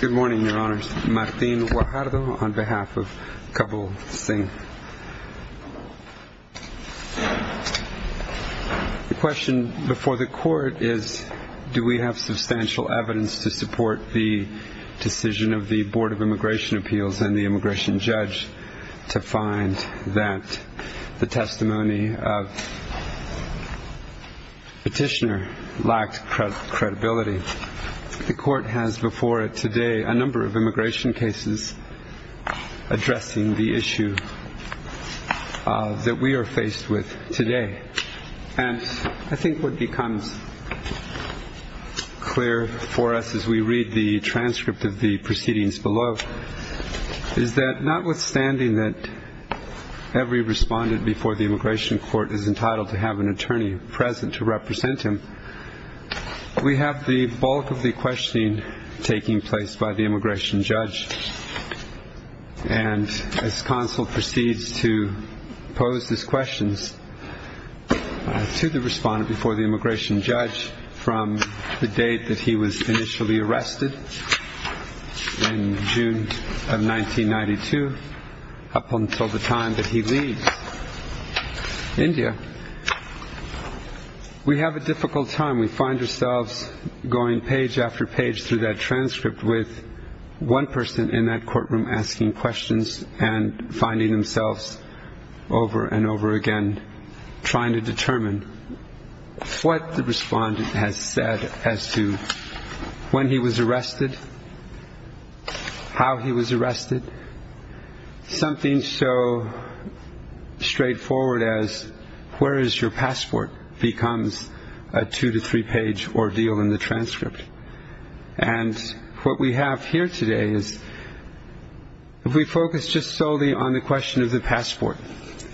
Good morning, Your Honors. Martin Guajardo on behalf of Kabul Singh. The question before the court is, do we have substantial evidence to support the decision of the Board of Immigration Appeals and the immigration judge to find that the testimony of petitioner lacked credibility. The court has before it today a number of immigration cases addressing the issue that we are faced with today. And I think what becomes clear for us as we read the transcript of the proceedings below is that notwithstanding that every respondent before the immigration court is entitled to have an attorney present to represent him, we have the bulk of the questioning taking place by the immigration judge. And as counsel proceeds to pose these questions to the respondent before the immigration judge from the date that he was initially arrested in India, we have a difficult time. We find ourselves going page after page through that transcript with one person in that courtroom asking questions and finding themselves over and over again trying to determine what the respondent has said as to when he was arrested, how he was arrested. Something so straightforward as where is your passport becomes a two to three page ordeal in the transcript. And what we have here today is if we focus just solely on the question of the passport,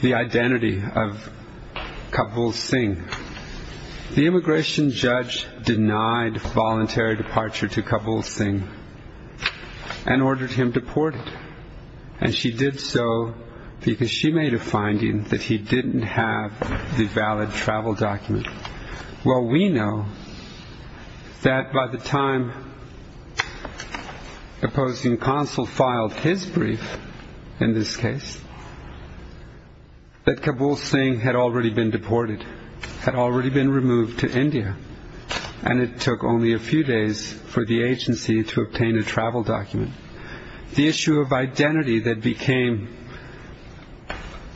the identity of Kabul Singh, the immigration judge denied voluntary departure to Kabul Singh and ordered him deported. And she did so because she made a finding that he didn't have the valid travel document. Well, we know that by the time opposing counsel filed his brief in this case, that Kabul Singh had already been deported, had already been removed to India, and it took only a few days for the agency to obtain a travel document. The issue of identity that became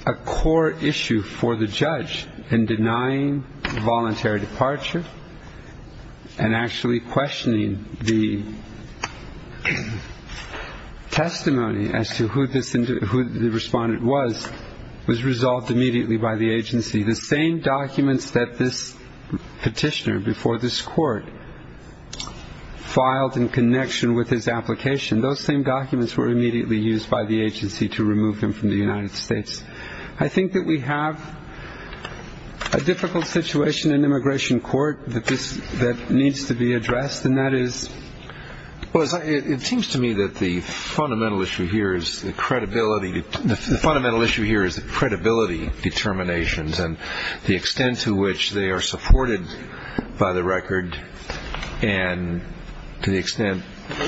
a core issue for the judge in denying voluntary departure and actually questioning the testimony as to who the respondent was, was resolved immediately by the agency. The same before this court filed in connection with his application, those same documents were immediately used by the agency to remove him from the United States. I think that we have a difficult situation in immigration court that needs to be addressed. And that is, it seems to me that the fundamental issue here is the credibility. The fundamental issue here is credibility determinations and the by the record, and to the extent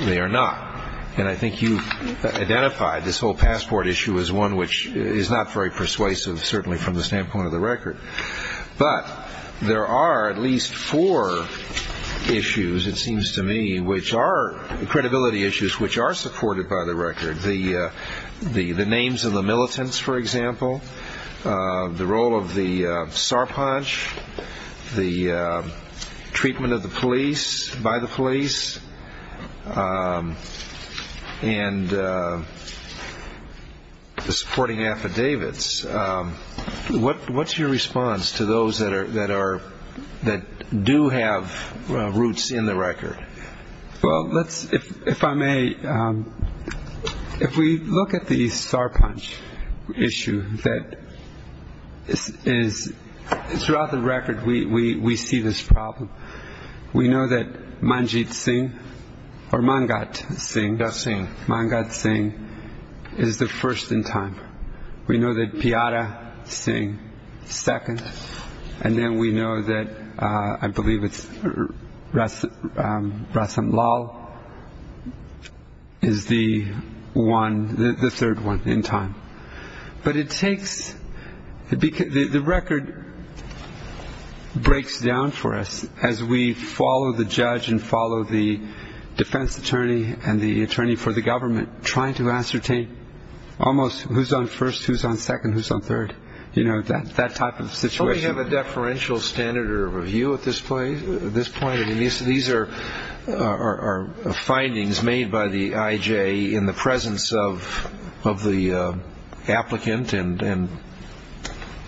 they are not. And I think you've identified this whole passport issue as one which is not very persuasive, certainly from the standpoint of the record. But there are at least four issues, it seems to me, which are credibility issues, which are supported by the treatment of the police, by the police, and the supporting affidavits. What's your response to those that are, that do have roots in the record? Well, let's, if I may, if we look at the star punch issue that is throughout the record, we see this problem. We know that Manjit Singh or Mangat Singh, Mangat Singh is the first in time. We know that Jata Singh, second. And then we know that, I believe it's Rasam Lal is the one, the third one in time. But it takes, the record breaks down for us as we follow the judge and follow the defense attorney and the attorney for the government trying to ascertain almost who's on first, who's on second, who's on third. You know, that type of situation. Don't we have a deferential standard of review at this point? I mean, these are findings made by the IJ in the presence of the applicant and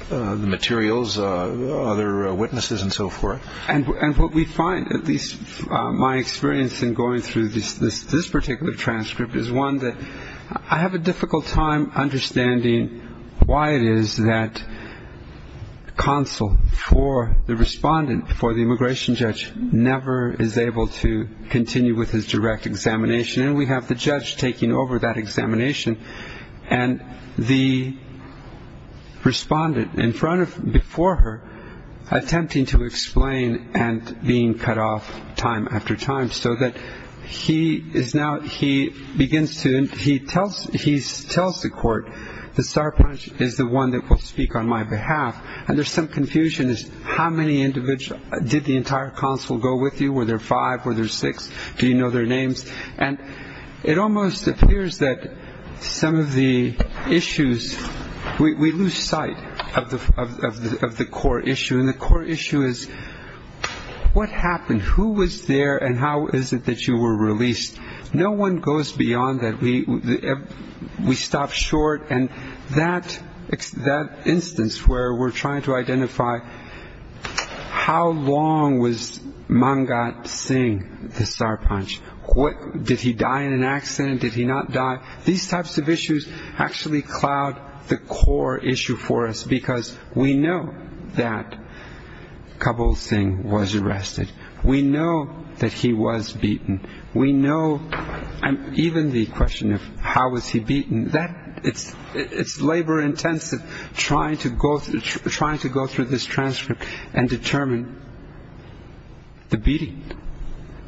the materials, other witnesses and so forth. And what we find, at least my experience in going through this particular transcript is one that I have a difficult time understanding why it is that counsel for the respondent, for the immigration judge, never is able to continue with his direct examination. And we have the judge taking over that examination. And the respondent in front of, before her, attempting to explain and being cut off time after time so that he is now, he begins to, he tells, he tells the court, the Sarpanch is the one that will speak on my behalf. And there's some confusion as to how many individuals, did the entire counsel go with you? Were there five? Were there six? Do you know their names? And it almost appears that some of the issues, we lose sight of the core issue. And the core issue is what happened? Who was there and how is it that you were released? No one goes beyond that. We stop short. And that instance where we're trying to identify how long was Mangat Singh, the Sarpanch, what, did he die in an accident? Did he not die? These types of issues actually cloud the core issue for us because we know that Kabul Singh was arrested. We know that he was beaten. We know, even the question of how was he beaten, that it's labor-intensive trying to go, trying to go through this transcript and determine the beating.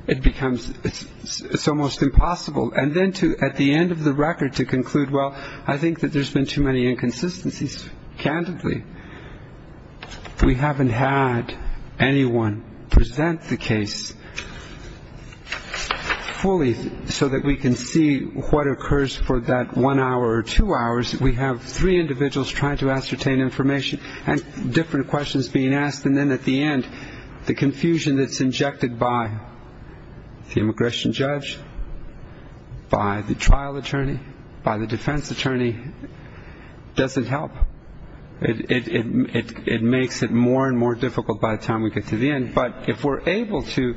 It becomes, it's almost impossible. And then to, at the end of the record, to conclude, well, I think that there's been too many inconsistencies. Candidly, we haven't had anyone present the case fully so that we can see what occurs for that one hour or two hours. We have three individuals trying to ascertain information and different questions being asked. And then at the end, the confusion that's injected by the immigration judge, by the time we get to the end. But if we're able to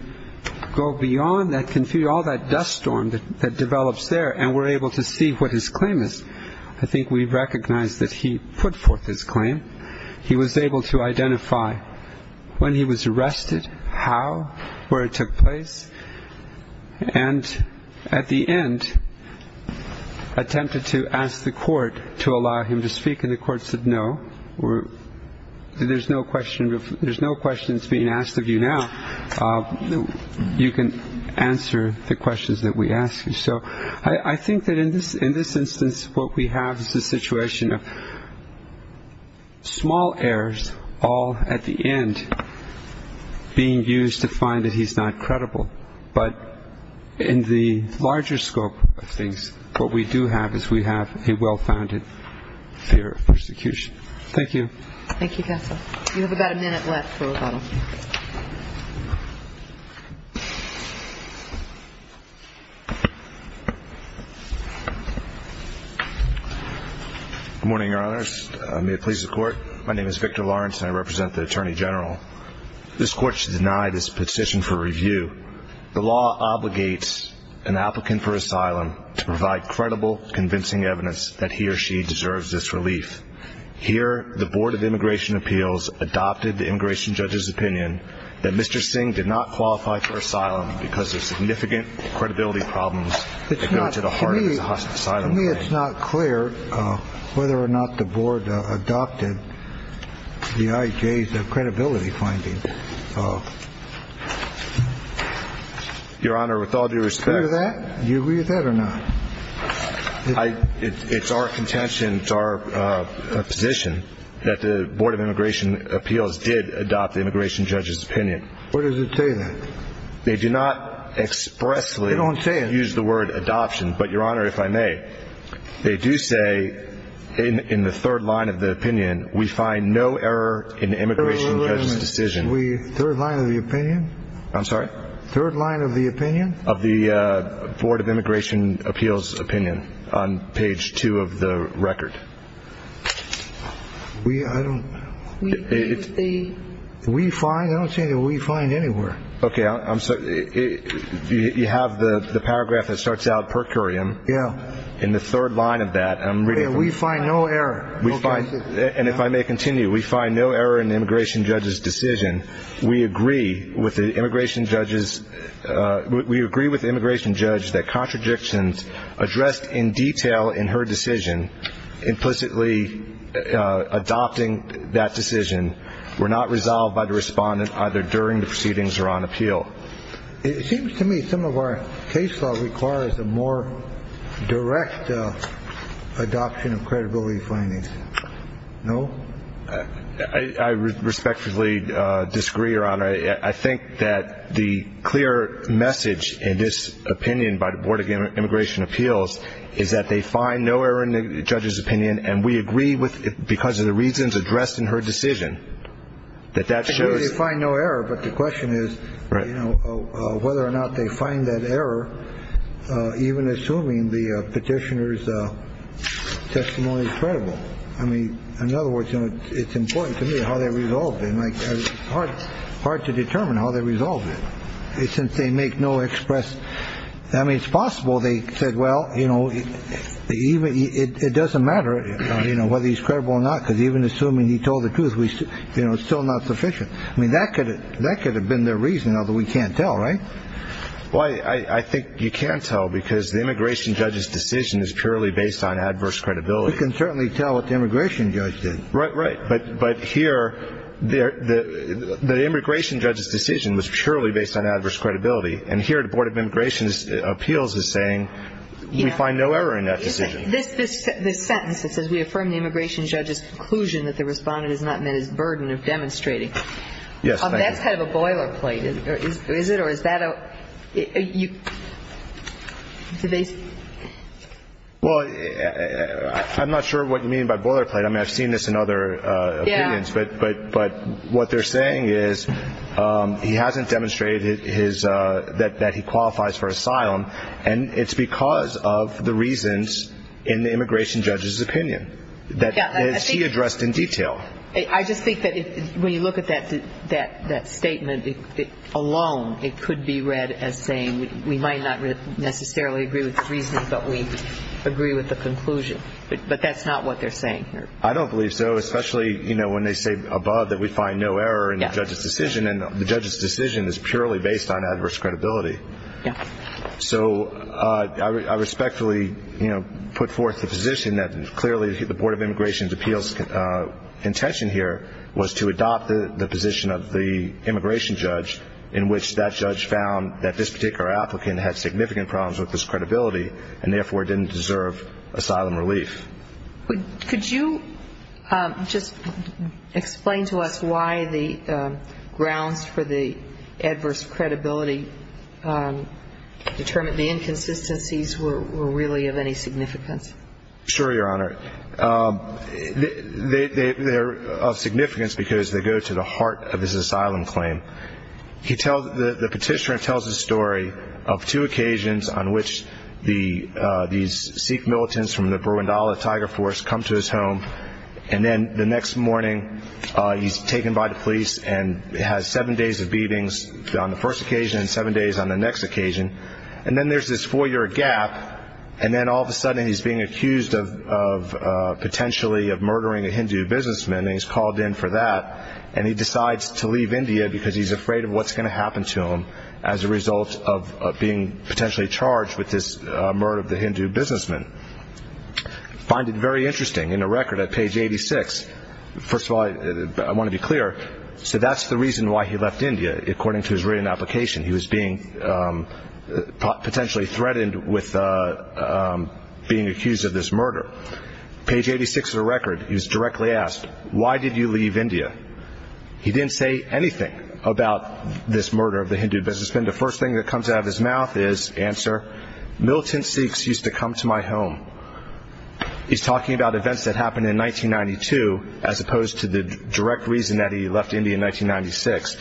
go beyond that confusion, all that dust storm that develops there, and we're able to see what his claim is, I think we recognize that he put forth his claim. He was able to identify when he was arrested, how, where it took place. And at the end, there's no questions being asked of you now. You can answer the questions that we ask you. So I think that in this instance, what we have is a situation of small errors, all at the end, being used to find that he's not credible. But in the larger scope of things, what we do have is we have a little bit of time. We've got a minute left for a couple of questions. Good morning, Your Honors. May it please the Court. My name is Victor Lawrence, and I represent the Attorney General. This Court should deny this petition for review. The law obligates an applicant for asylum to provide credible, convincing evidence that he or she deserves this relief. Here, the immigration judge's opinion that Mr. Singh did not qualify for asylum because of significant credibility problems that go to the heart of his asylum claim. To me, it's not clear whether or not the Board adopted the IJ's credibility finding. Your Honor, with all due respect. Do you agree with that? Do you agree with that or not? It's our contention, it's our position that the Board of Immigration Appeals did adopt the immigration judge's opinion. Where does it say that? They do not expressly use the word adoption, but Your Honor, if I may, they do say in the third line of the opinion, we find no error in the immigration judge's decision. We, third line of the opinion? I'm sorry? Third line of the opinion? Of the Board of Immigration Appeals opinion on page two of the record. We, I don't, we find, I don't see the we find anywhere. Okay, I'm sorry. You have the paragraph that starts out per curiam. Yeah. In the third line of that. We find no error. And if I may continue, we find no error in the immigration judge's decision. We agree with the immigration judge's, we agree with the immigration judge's that contradictions addressed in detail in her decision, implicitly adopting that decision, were not resolved by the respondent either during the proceedings or after the proceedings. It seems to me some of our case law requires a more direct adoption of credibility findings. No? I respectfully disagree, Your Honor. I think that the clear message in this opinion by the Board of Immigration Appeals is that they find no error in the judge's opinion, and we agree with it because of the reasons addressed in her decision. That that shows you find no error. But the question is whether or not they find that error, even assuming the petitioner's testimony is credible. I mean, in other words, it's important to me how they resolved in my heart, hard to determine how they resolved it since they make no express. I mean, it's possible they said, well, you know, even it doesn't matter whether he's credible or not, because even assuming he told the truth, we still not sufficient. I mean, that could that could have been the reason that we can't tell. Right. Well, I think you can't tell because the immigration judge's decision is purely based on adverse credibility. We can certainly tell what the immigration judge did. Right. Right. But but here the the the immigration judge's decision was purely based on adverse credibility. And here the Board of Immigration Appeals is saying we find no error in that decision. This this this sentence that says we affirm the immigration judge's conclusion that the respondent is not meant as burden of demonstrating. Yes. That's kind of a boilerplate. Is it or is that you. Well, I'm not sure what you mean by boilerplate. I mean, I've seen this in other areas. But but but what they're saying is he hasn't demonstrated his that that he qualifies for asylum. And it's because of the reasons in the immigration judge's opinion that he addressed in detail. I just think that when you look at that, that that statement alone, it could be read as saying we might not necessarily agree with the reasons, but we agree with the conclusion. But that's not what they're saying. I don't believe so, especially, you know, when they say above that we find no error in the judge's decision. And the judge's decision is purely based on adverse credibility. So I respectfully put forth the position that clearly the Board of Immigration Appeals intention here was to adopt the position of the immigration judge in which that judge found that this particular applicant had significant problems with this credibility and therefore didn't deserve asylum relief. Could you just explain to us why the grounds for the adverse credibility determined the inconsistencies were really of any significance? Sure, Your Honor. They're of significance because they go to the heart of this asylum claim. The petitioner tells the story of two occasions on which these Sikh militants from the Burundala Tiger Force come to his home. And then the next morning he's taken by the police and has seven days of beatings on the first occasion and seven days on the next occasion. And then there's this four-year gap. And then all of a sudden he's being accused of potentially of murdering a Hindu businessman. And he's called in for that. And he decides to leave India because he's afraid of what's going to happen to him as a result of being potentially charged with this murder of the Hindu businessman. I find it very interesting in the record at page 86. First of all, I want to be clear. So that's the reason why he left India, according to his written application. He was being potentially threatened with being accused of this murder. Page 86 of the record, he was directly asked, why did you leave India? He didn't say anything about this murder of the Hindu businessman. The first thing that comes out of his mouth is, answer, militant Sikhs used to come to my home. He's talking about events that happened in 1992 as opposed to the direct reason that he left India in 1996.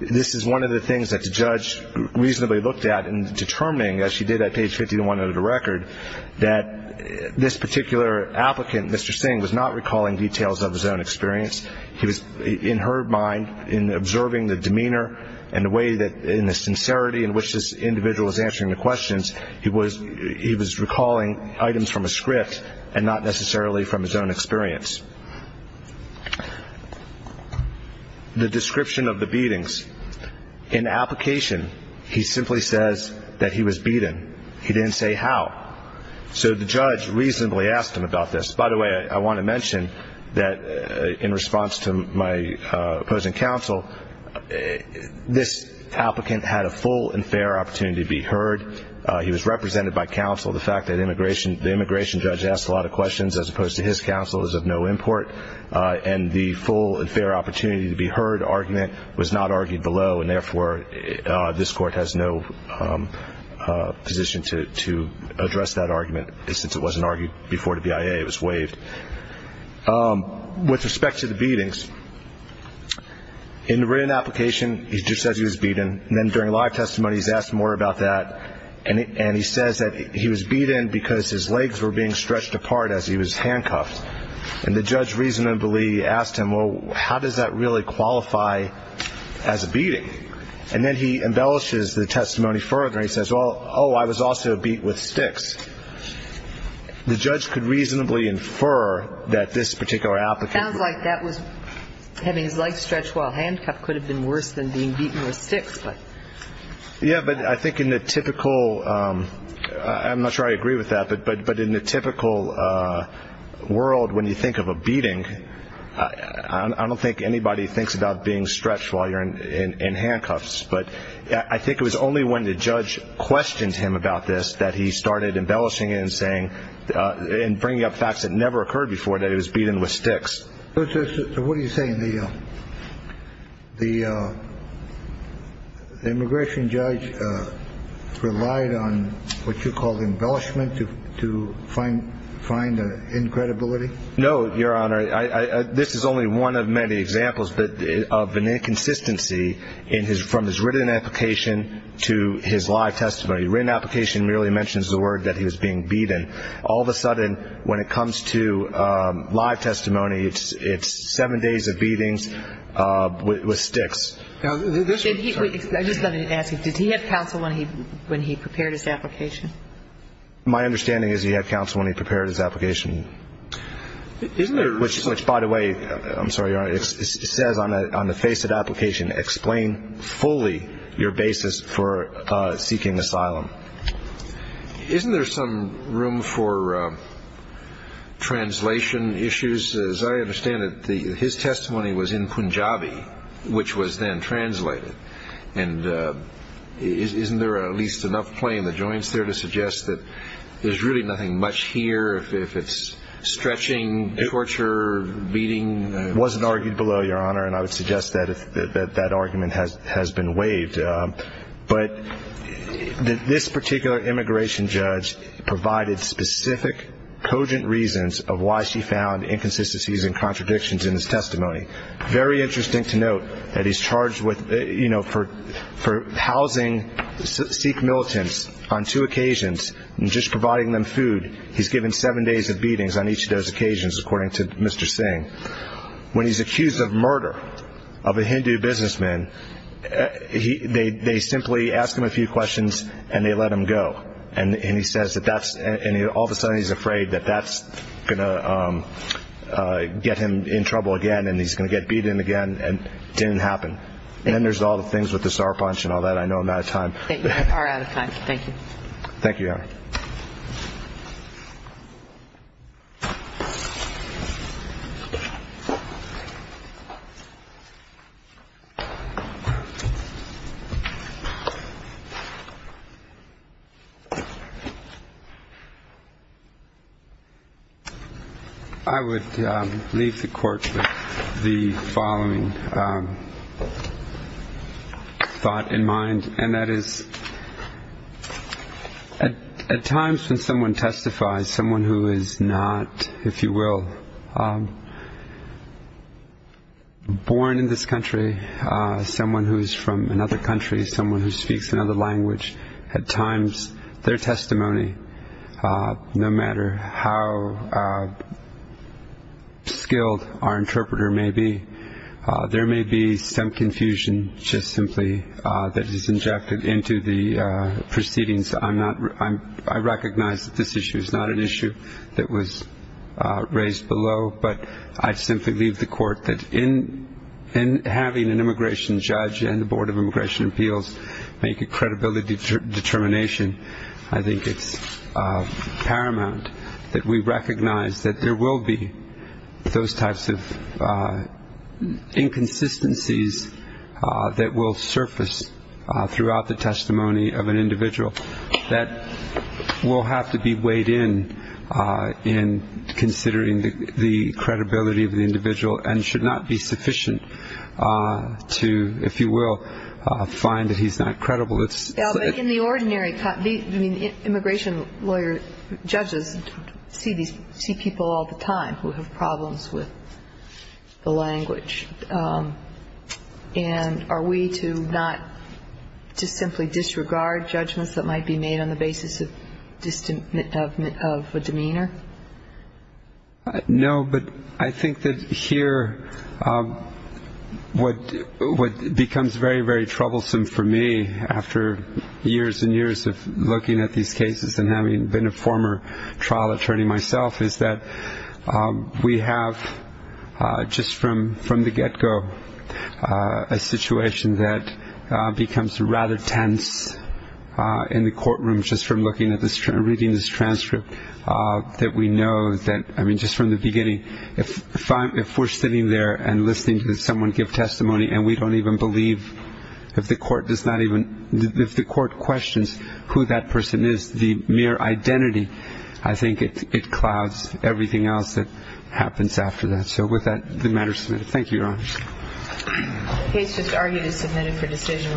This is one of the things that the judge reasonably looked at in determining, as she did at page 51 of the record, that this particular applicant, Mr. Singh, was not recalling details of his own experience. He was, in her mind, in observing the demeanor and the way that in the sincerity in which this individual is answering the questions, he was recalling items from a script and not necessarily from his own experience. The description of the beatings. In the application, he simply says that he was beaten. He didn't say how. So the judge reasonably asked him about this. By the way, I want to mention that in response to my opposing counsel, this applicant had a full and fair opportunity to be heard. He was represented by counsel. The fact that the immigration judge asked a lot of questions as opposed to his counsel is of no import, and the full and fair opportunity to be heard argument was not argued below, and therefore this court has no position to address that argument since it wasn't argued before the BIA. It was waived. With respect to the beatings, in the written application, he just says he was beaten. And then during live testimony, he's asked more about that, and he says that he was beaten because his legs were being stretched apart as he was handcuffed. And the judge reasonably asked him, well, how does that really qualify as a beating? And then he embellishes the testimony further. He says, well, oh, I was also beat with sticks. The judge could reasonably infer that this particular applicant. It sounds like that was having his legs stretched while handcuffed could have been worse than being beaten with sticks. Yeah, but I think in the typical. I'm not sure I agree with that. But but but in the typical world, when you think of a beating, I don't think anybody thinks about being stretched while you're in handcuffs. But I think it was only when the judge questioned him about this that he started embellishing and saying and bringing up facts that never occurred before that he was beaten with sticks. What do you say in the. The. The immigration judge relied on what you call embellishment to to find find incredibility. No, Your Honor. This is only one of many examples of an inconsistency in his from his written application to his live testimony. Written application merely mentions the word that he was being beaten. All of a sudden, when it comes to live testimony, it's it's seven days of beatings with sticks. Now, this is what I was going to ask you. Did he have counsel when he when he prepared his application? My understanding is he had counsel when he prepared his application. Isn't it? Which, by the way, I'm sorry. It says on the face of the application, explain fully your basis for seeking asylum. Isn't there some room for translation issues? As I understand it, his testimony was in Punjabi, which was then translated. And isn't there at least enough play in the joints there to suggest that there's really nothing much here? If it's stretching torture, beating wasn't argued below your honor. And I would suggest that if that argument has has been waived. But this particular immigration judge provided specific cogent reasons of why she found inconsistencies and contradictions in his testimony. Very interesting to note that he's charged with, you know, for for housing Sikh militants on two occasions and just providing them food. He's given seven days of beatings on each of those occasions, according to Mr. Singh. When he's accused of murder of a Hindu businessman, they simply ask him a few questions and they let him go. And he says that that's all of a sudden he's afraid that that's going to get him in trouble again. And he's going to get beaten again. And it didn't happen. And there's all the things with the star punch and all that. I know I'm out of time. Thank you. Thank you. I would leave the court. The following thought in mind, and that is at times when someone testifies, someone who is not, if you will. Born in this country, someone who is from another country, someone who speaks another language. At times, their testimony, no matter how skilled our interpreter may be, there may be some confusion just simply that is injected into the proceedings. I'm not I'm I recognize that this issue is not an issue that was raised below, but I simply leave the court that in having an immigration judge and the Board of Immigration Appeals make a credibility determination. I think it's paramount that we recognize that there will be those types of inconsistencies that will surface throughout the testimony of an individual. That will have to be weighed in in considering the credibility of the individual and should not be sufficient to, if you will, find that he's not credible. It's in the ordinary. I mean, immigration lawyer judges see these people all the time who have problems with the language. And are we to not just simply disregard judgments that might be made on the basis of distant of a demeanor? No, but I think that here what what becomes very, very troublesome for me after years and years of looking at these cases and having been a former trial attorney myself is that we have just from from the get go a situation that becomes rather tense in the courtroom. Just from looking at this reading this transcript that we know that. I mean, just from the beginning, if if we're sitting there and listening to someone give testimony and we don't even believe if the court does not even. If the court questions who that person is, the mere identity, I think it clouds everything else that happens after that. So with that, the matter is submitted. Thank you, Your Honor. The case just argued is submitted for decision.